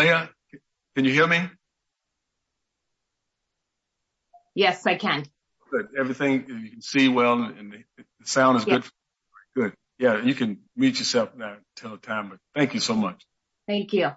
Maya, can you hear me? Yes, I can. Good. Everything, you can see well, and the sound is good. Good. Yeah, you can mute yourself now until the time, but thank you so much. Thank you.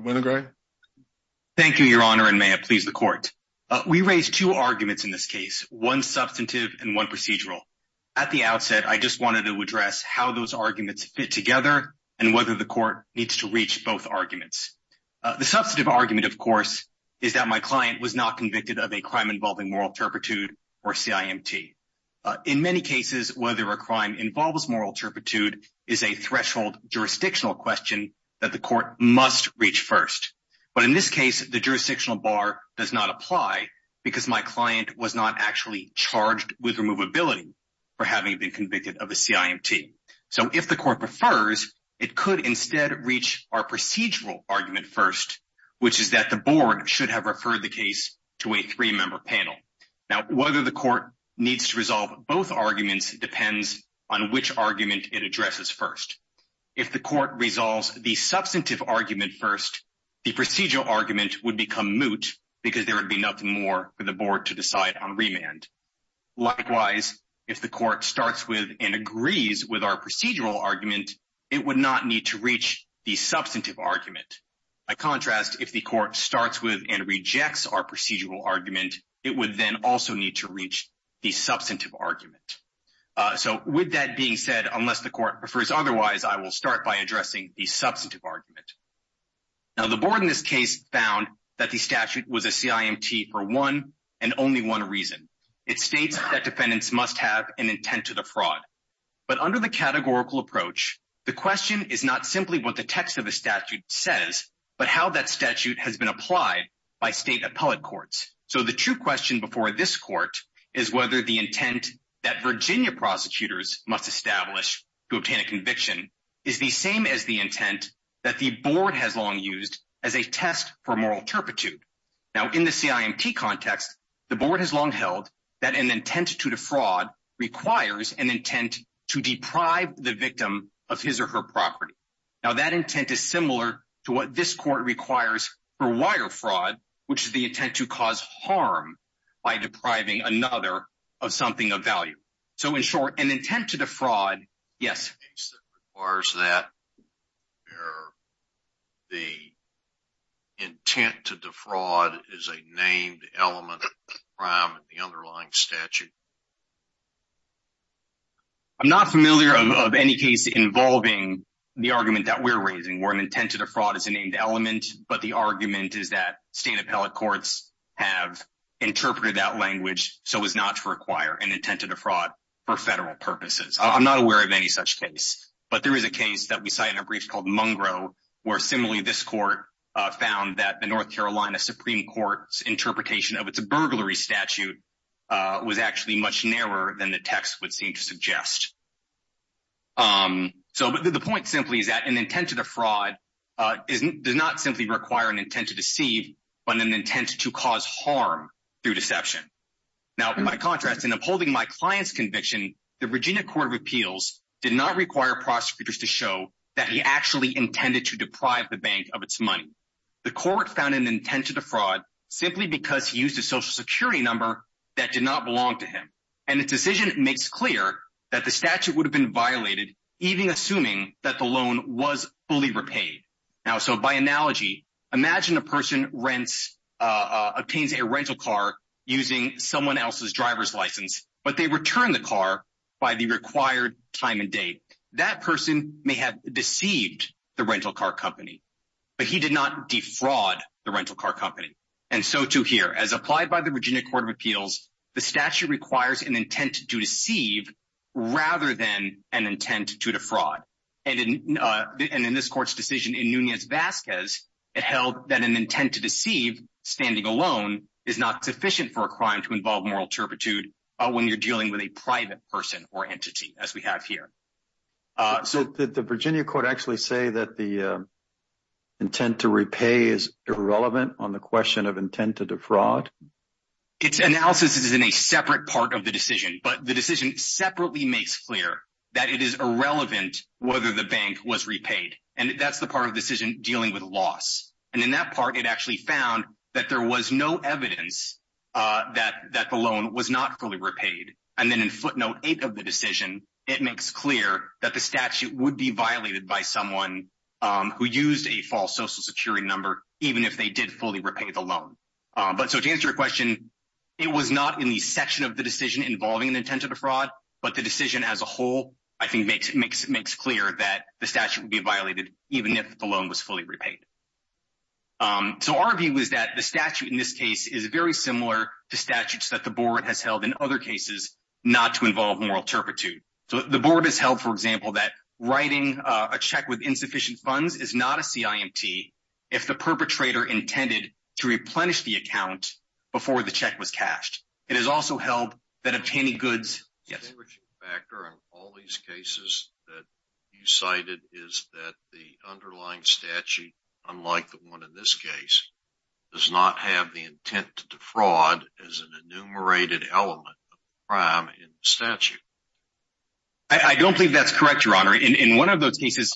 Winograd? Thank you, Your Honor, and may it please the Court. We raised two arguments in this case, one substantive and one procedural. At the outset, I just wanted to address how those arguments fit together and whether the The substantive argument, of course, is that my client was not convicted of a crime involving moral turpitude or CIMT. In many cases, whether a crime involves moral turpitude is a threshold jurisdictional question that the Court must reach first. But in this case, the jurisdictional bar does not apply because my client was not actually charged with removability for having been convicted of a CIMT. So if the Court prefers, it could instead reach our procedural argument first, which is that the Board should have referred the case to a three-member panel. Now, whether the Court needs to resolve both arguments depends on which argument it addresses first. If the Court resolves the substantive argument first, the procedural argument would become moot because there would be nothing more for the Board to decide on remand. Likewise, if the Court starts with and agrees with our procedural argument, it would not need to reach the substantive argument. By contrast, if the Court starts with and rejects our procedural argument, it would then also need to reach the substantive argument. So with that being said, unless the Court prefers otherwise, I will start by addressing the substantive argument. Now, the Board in this case found that the statute was a CIMT for one and only one reason. It states that defendants must have an intent to defraud. But under the categorical approach, the question is not simply what the text of the statute says, but how that statute has been applied by state appellate courts. So the true question before this Court is whether the intent that Virginia prosecutors must establish to obtain a conviction is the same as the intent that the Board has long used as a test for moral turpitude. Now in the CIMT context, the Board has long held that an intent to defraud requires an intent to deprive the victim of his or her property. Now that intent is similar to what this Court requires for wire fraud, which is the intent to cause harm by depriving another of something of value. So in short, an intent to defraud, yes. In the case that requires that, the intent to defraud is a named element of the crime in the underlying statute. I'm not familiar of any case involving the argument that we're raising where an intent to defraud is a named element, but the argument is that state appellate courts have interpreted that language so as not to require an intent to defraud for federal purposes. I'm not aware of any such case, but there is a case that we cite in a brief called Mungro, where similarly this Court found that the North Carolina Supreme Court's interpretation of its burglary statute was actually much narrower than the text would seem to suggest. So the point simply is that an intent to defraud does not simply require an intent to deceive, but an intent to cause harm through deception. Now, by contrast, in upholding my client's conviction, the Virginia Court of Appeals did not require prosecutors to show that he actually intended to deprive the bank of its money. The Court found an intent to defraud simply because he used a social security number that did not belong to him, and the decision makes clear that the statute would have been violated, even assuming that the loan was fully repaid. Now, so by analogy, imagine a person obtains a rental car using someone else's driver's license, but they return the car by the required time and date. That person may have deceived the rental car company, but he did not defraud the rental car company. And so, too, here, as applied by the Virginia Court of Appeals, the statute requires an intent to deceive rather than an intent to defraud. And in this court's decision in Nunez-Vasquez, it held that an intent to deceive standing alone is not sufficient for a crime to involve moral turpitude when you're dealing with a private person or entity, as we have here. So did the Virginia Court actually say that the intent to repay is irrelevant on the question of intent to defraud? Its analysis is in a separate part of the decision, but the decision separately makes clear that it is irrelevant whether the bank was repaid, and that's the part of the decision dealing with loss. And in that part, it actually found that there was no evidence that the loan was not fully repaid. And then in footnote eight of the decision, it makes clear that the statute would be violated by someone who used a false social security number, even if they did fully repay the loan. But so to answer your question, it was not in the section of the decision involving an intent to defraud, but the decision as a whole, I think, makes clear that the statute would be violated even if the loan was fully repaid. So our view is that the statute in this case is very similar to statutes that the board has held in other cases not to involve moral turpitude. So the board has held, for example, that writing a check with insufficient funds is not a CIMT if the perpetrator intended to replenish the account before the check was cashed. It is also held that if any goods... Yes. The distinguishing factor in all these cases that you cited is that the underlying statute, unlike the one in this case, does not have the intent to defraud as an enumerated element in the statute. I don't believe that's correct, Your Honor. In one of those cases,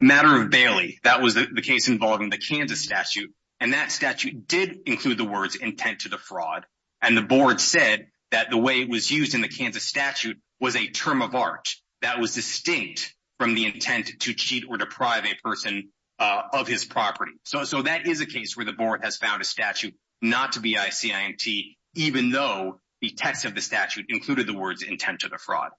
the matter of Bailey, that was the case involving the Kansas statute. And that statute did include the words intent to defraud. And the board said that the way it was used in the Kansas statute was a term of art that was distinct from the intent to cheat or deprive a person of his property. So that is a case where the board has found a statute not to be a CIMT, even though the text of the statute included the words intent to defraud.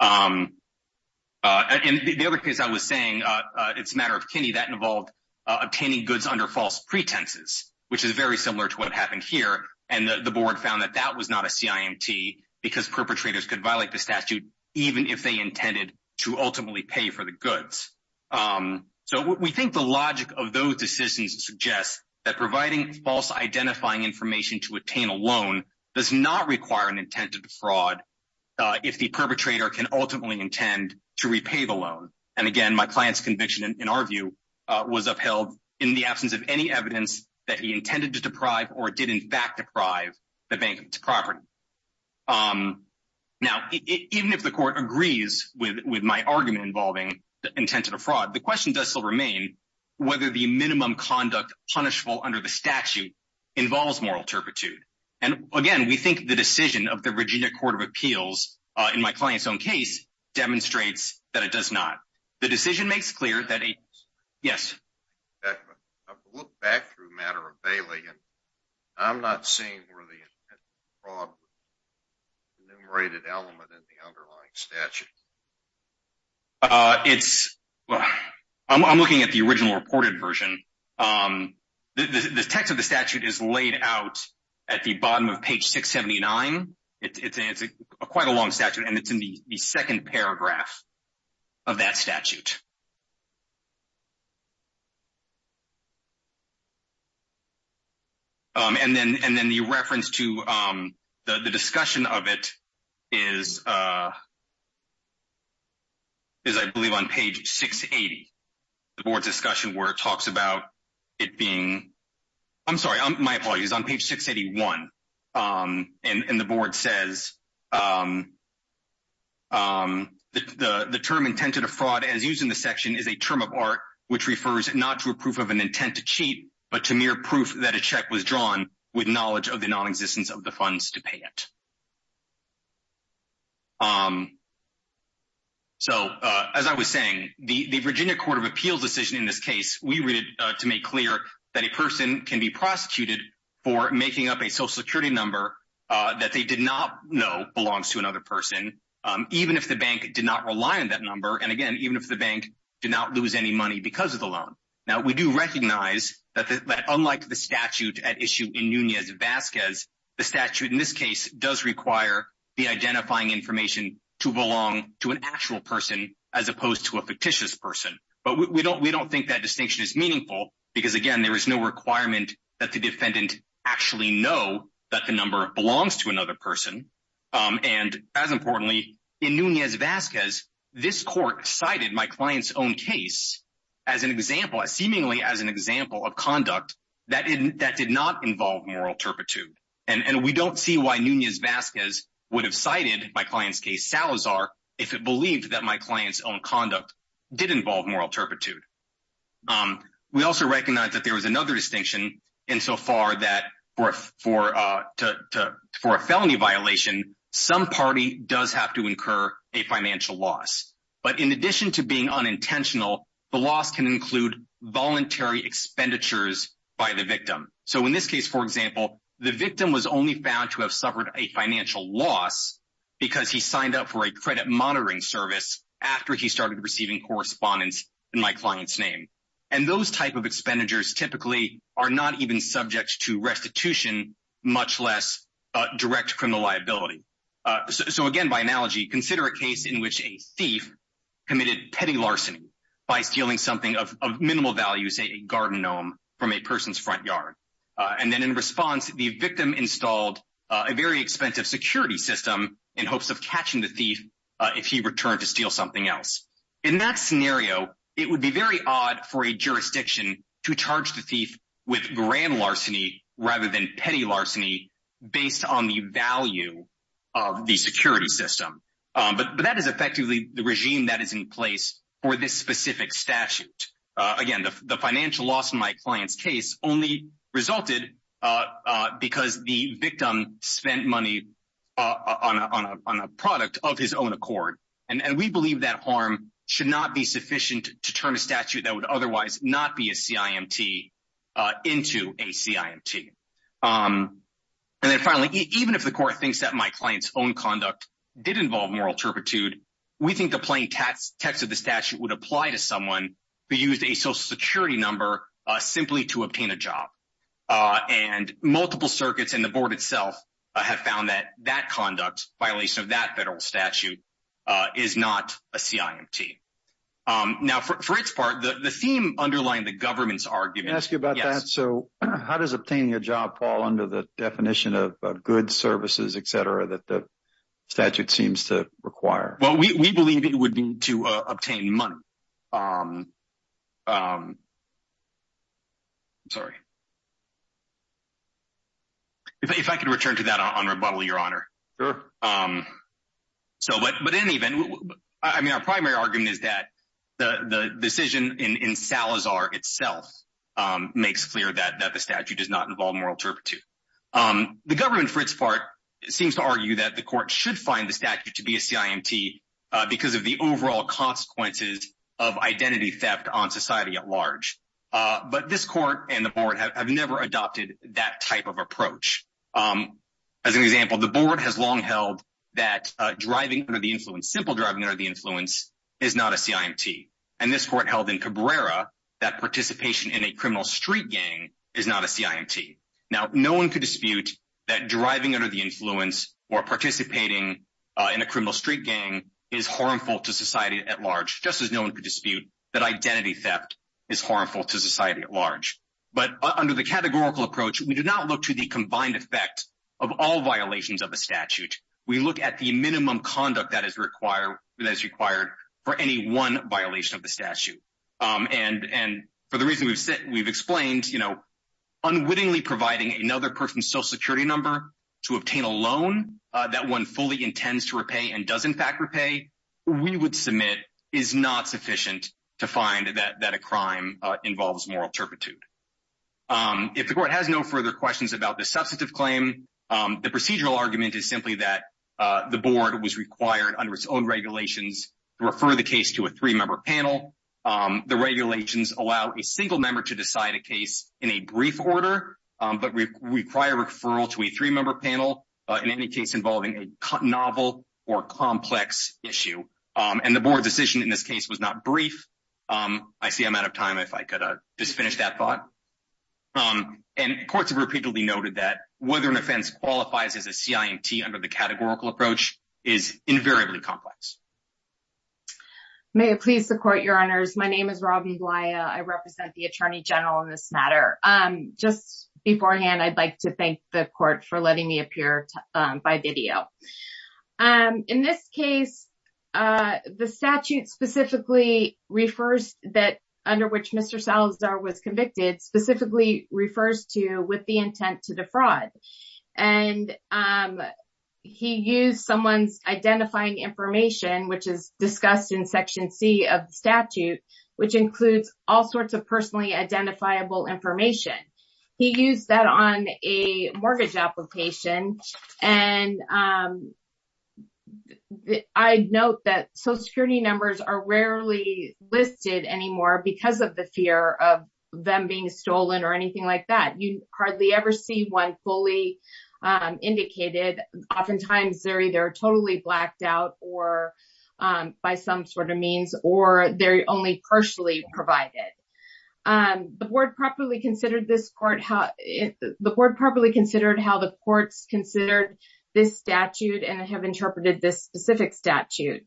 And the other case I was saying, it's a matter of Kinney, that involved obtaining goods under false pretenses, which is very similar to what happened here. And the board found that that was not a CIMT because perpetrators could violate the statute even if they intended to ultimately pay for the goods. So we think the logic of those decisions suggests that providing false identifying information to obtain a loan does not require an intent to defraud if the perpetrator can ultimately intend to repay the loan. And again, my client's conviction, in our view, was upheld in the absence of any evidence that he intended to deprive or did in fact deprive the bank's property. Now, even if the court agrees with my argument involving the intent to defraud, the question does still remain whether the minimum conduct punishable under the statute involves moral turpitude. And again, we think the decision of the Virginia Court of Appeals in my client's own case demonstrates that it does not. The decision makes clear that a... Yes. I've looked back through a matter of Bailey, and I'm not seeing where the intent to defraud was the enumerated element in the underlying statute. It's... I'm looking at the original reported version. The text of the statute is laid out at the bottom of page 679. It's quite a long statute, and it's in the second paragraph of that statute. And then the reference to the discussion of it is, I believe, on page 680. The board discussion where it talks about it being... I'm sorry, my apologies, on page 681. And the board says... The term intended to defraud as used in the section is a term of art which refers not to a proof of an intent to cheat, but to mere proof that a check was drawn with knowledge of the non-existence of the funds to pay it. So, as I was saying, the Virginia Court of Appeals decision in this case, we read it to make clear that a person can be prosecuted for making up a social security number that they did not know belongs to another person, even if the bank did not rely on that number, and, again, even if the bank did not lose any money because of the loan. Now, we do recognize that, unlike the statute at issue in Nunez-Vazquez, the statute in this case does require the identifying information to belong to an actual person as opposed to a fictitious person. But we don't think that distinction is meaningful because, again, there is no requirement that the defendant actually know that the number belongs to another person. And, as importantly, in Nunez-Vazquez, this court cited my client's own case as an example, seemingly as an example of conduct that did not involve moral turpitude. And we don't see why Nunez-Vazquez would have cited my client's case, Salazar, if it believed that my client's own conduct did involve moral turpitude. We also recognize that there was another distinction insofar that for a felony violation, some party does have to incur a financial loss. But in addition to being unintentional, the loss can include voluntary expenditures by the victim. So, in this case, for example, the victim was only found to have suffered a financial loss because he signed up for a credit monitoring service after he started receiving correspondence in my client's name. And those type of expenditures typically are not even subject to restitution, much less direct criminal liability. So, again, by analogy, consider a case in which a thief committed petty larceny by stealing something of minimal value, say a garden gnome from a person's front yard. And then in response, the victim installed a very expensive security system in hopes of catching the thief if he returned to steal something else. In that scenario, it would be very odd for a jurisdiction to charge the thief with grand larceny rather than petty larceny based on the value of the security system. But that is effectively the regime that is in place for this specific statute. Again, the financial loss in my client's case only resulted because the victim spent money on a product of his own accord. And we believe that harm should not be sufficient to turn a statute that would otherwise not be a CIMT into a CIMT. And then finally, even if the court thinks that my client's own conduct did involve moral turpitude, we think the plain text of the statute would apply to someone who used a social security number simply to obtain a job. And multiple circuits and the board itself have found that that conduct, violation of that federal statute, is not a CIMT. Now, for its part, the theme underlying the government's argument... Can I ask you about that? So how does obtaining a job fall under the definition of goods, services, et cetera, that the statute seems to require? Well, we believe it would mean to obtain money. I'm sorry. If I could return to that on rebuttal, Your Honor. Sure. So, but in any event, I mean, our primary argument is that the decision in Salazar itself makes clear that the statute does not involve moral turpitude. The government, for its part, seems to argue that the court should find the statute to be a CIMT because of the overall consequences of identity theft on society at large. But this court and the board have never adopted that type of approach. As an example, the board has long held that driving under the influence, simple driving under the influence, is not a CIMT. And this court held in Cabrera that participation in a criminal street gang is not a CIMT. Now, no one could dispute that driving under the influence or participating in a criminal street gang is harmful to society at large, just as no one could dispute that identity theft is harmful to society at large. But under the categorical approach, we do not look to the combined effect of all violations of the statute. We look at the minimum conduct that is required for any one violation of the statute. And for the reason we've explained, you know, unwittingly providing another person's social security number to obtain a loan that one fully intends to repay and does in fact repay, we would submit is not sufficient to find that a crime involves moral turpitude. If the court has no further questions about the substantive claim, the procedural argument is simply that the board was required under its own regulations to refer the case to a three-member panel. The regulations allow a single member to decide a case in a brief order, but require referral to a three-member panel in any case involving a novel or complex issue. And the board decision in this case was not brief. I see I'm out of time if I could just finish that thought. And courts have repeatedly noted that whether an offense qualifies as a CIMT under the categorical approach is invariably complex. May it please the court, your honors. My name is Robin Goliah. I represent the Attorney General on this matter. Just beforehand, I'd like to thank the court for letting me appear by video. In this case, the statute specifically refers that under which Mr. Salazar was convicted specifically refers to with the intent to defraud. And he used someone's identifying information, which is discussed in Section C of the statute, which includes all sorts of personally identifiable information. He used that on a mortgage application. And I note that Social Security numbers are rarely listed anymore because of the fear of them being stolen or anything like that. You hardly ever see one fully indicated. Oftentimes, they're either totally blacked out or by some sort of means, or they're only partially provided. The board properly considered this court, the board properly considered how the courts considered this statute and have interpreted this specific statute.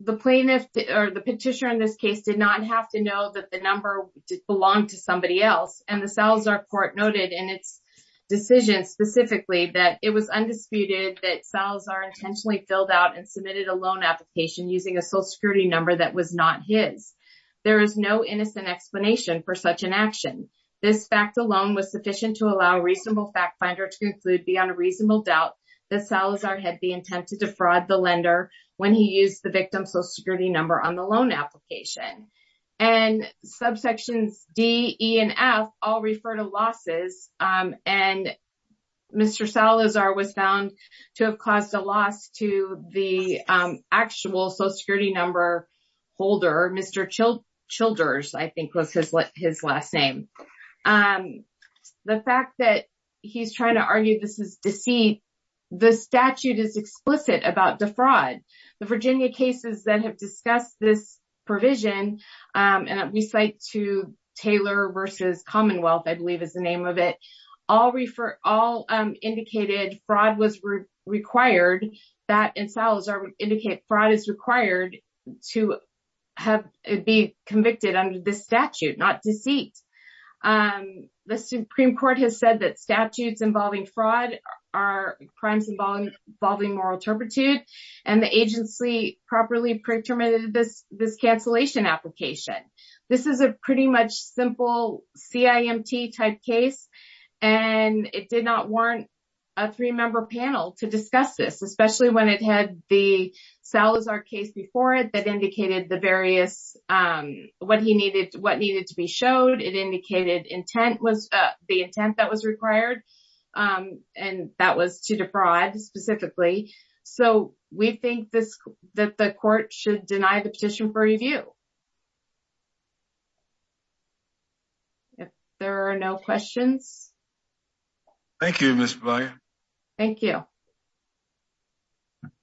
The plaintiff or the petitioner in this case did not have to know that the number belonged to somebody else. And the Salazar court noted in its decision specifically that it was undisputed that Salazar intentionally filled out and submitted a loan application using a Social Security number that was not his. There is no innocent explanation for such an action. This fact alone was sufficient to allow a reasonable fact finder to conclude beyond a reasonable doubt that Salazar had the intent to defraud the lender when he used the victim's Social Security number on the loan application. And subsections D, E, and F all refer to losses. And Mr. Salazar was found to have caused a loss to the actual Social Security number holder, Mr. Childers, I think was his last name. And the fact that he's trying to argue this is deceit, the statute is explicit about defraud. The Virginia cases that have discussed this provision, and we cite to Taylor versus Commonwealth, I believe is the name of it, all refer all indicated fraud was required that in Salazar indicate fraud is required to have be convicted under this statute, not deceit. The Supreme Court has said that statutes involving fraud are crimes involving moral turpitude, and the agency properly pre-determined this cancellation application. This is a pretty much simple CIMT type case, and it did not warrant a three-member panel to discuss this, especially when it had the Salazar case before it that indicated the various, what he needed, what needed to be showed. It indicated intent was the intent that was required, and that was to defraud specifically. So we think that the court should deny the petition for review. If there are no questions. Thank you, Ms. Breyer. Thank you.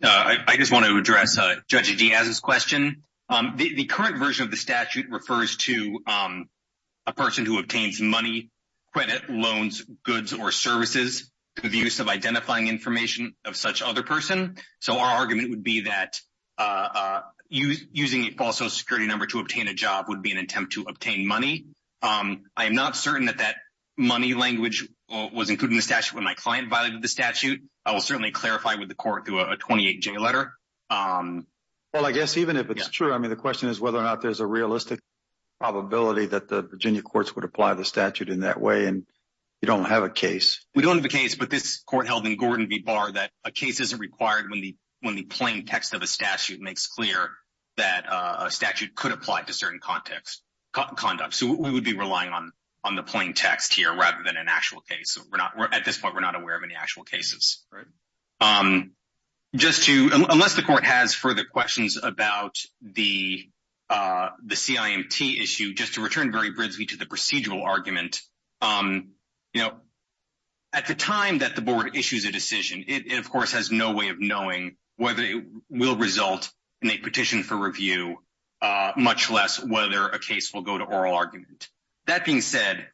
I just want to address Judge Diaz's question. The current version of the statute refers to a person who obtains money, credit, loans, goods, or services through the use of identifying information of such other person. So our argument would be that using a false social security number to obtain a job would be an attempt to obtain money. I am not certain that that money language was included in the statute when my client violated the statute. I will certainly clarify with the court through a 28-J letter. Well, I guess even if it's true, I mean, the question is whether or not there's a realistic probability that the Virginia courts would apply the statute in that way, and you don't have a case. We don't have a case, but this court held in Gordon v. Barr that a case isn't required when the plain text of a statute makes clear that a statute could apply to certain conduct. So we would be relying on the plain text here rather than an actual case. At this point, we're not aware of any actual cases. Unless the court has further questions about the CIMT issue, just to return very briefly to the procedural argument, at the time that the board issues a decision, it, of course, has no way of knowing whether it will result in a petition for review, much less whether a case will go to oral argument. That being said,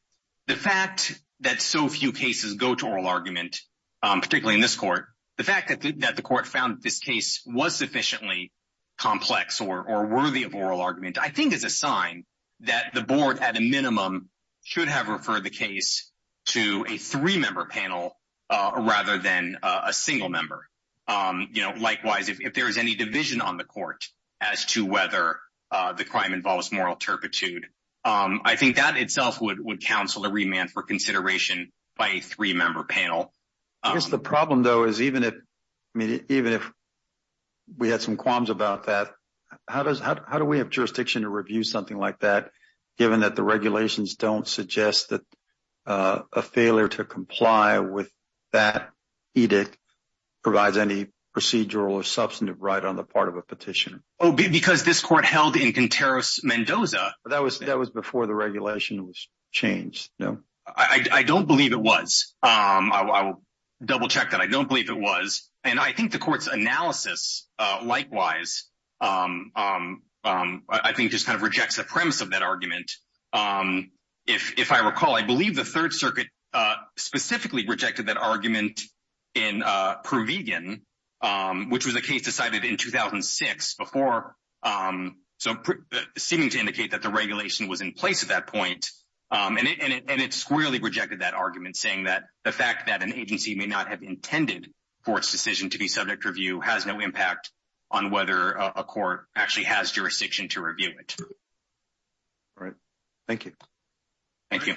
the fact that so few cases go to oral argument, particularly in this court, the fact that the court found this case was sufficiently complex or worthy of oral argument, I think is a sign that the board, at a minimum, should have referred the case to a three-member panel rather than a single member. Likewise, if there is any division on the court as to whether the crime involves moral turpitude, I think that itself would counsel a remand for consideration by a three-member panel. I guess the problem, though, is even if we had some qualms about that, how do we have jurisdiction to review something like that, given that the regulations don't suggest that a failure to comply with that edict provides any procedural or substantive right on the part of a petitioner? Oh, because this court held in Conteros-Mendoza. That was before the regulation was changed, no? I don't believe it was. I will double-check that. I don't believe it was. And I think the court's analysis, likewise, I think just kind of rejects the premise of that argument. If I recall, I believe the Third Circuit specifically rejected that argument in ProVegan, which was a case decided in 2006, seeming to indicate that the regulation was in place at that point. And it squarely rejected that argument, saying that the fact that an agency may not have intended for its decision to be subject to review has no impact on whether a court actually has jurisdiction to review it. All right. Thank you. Thank you.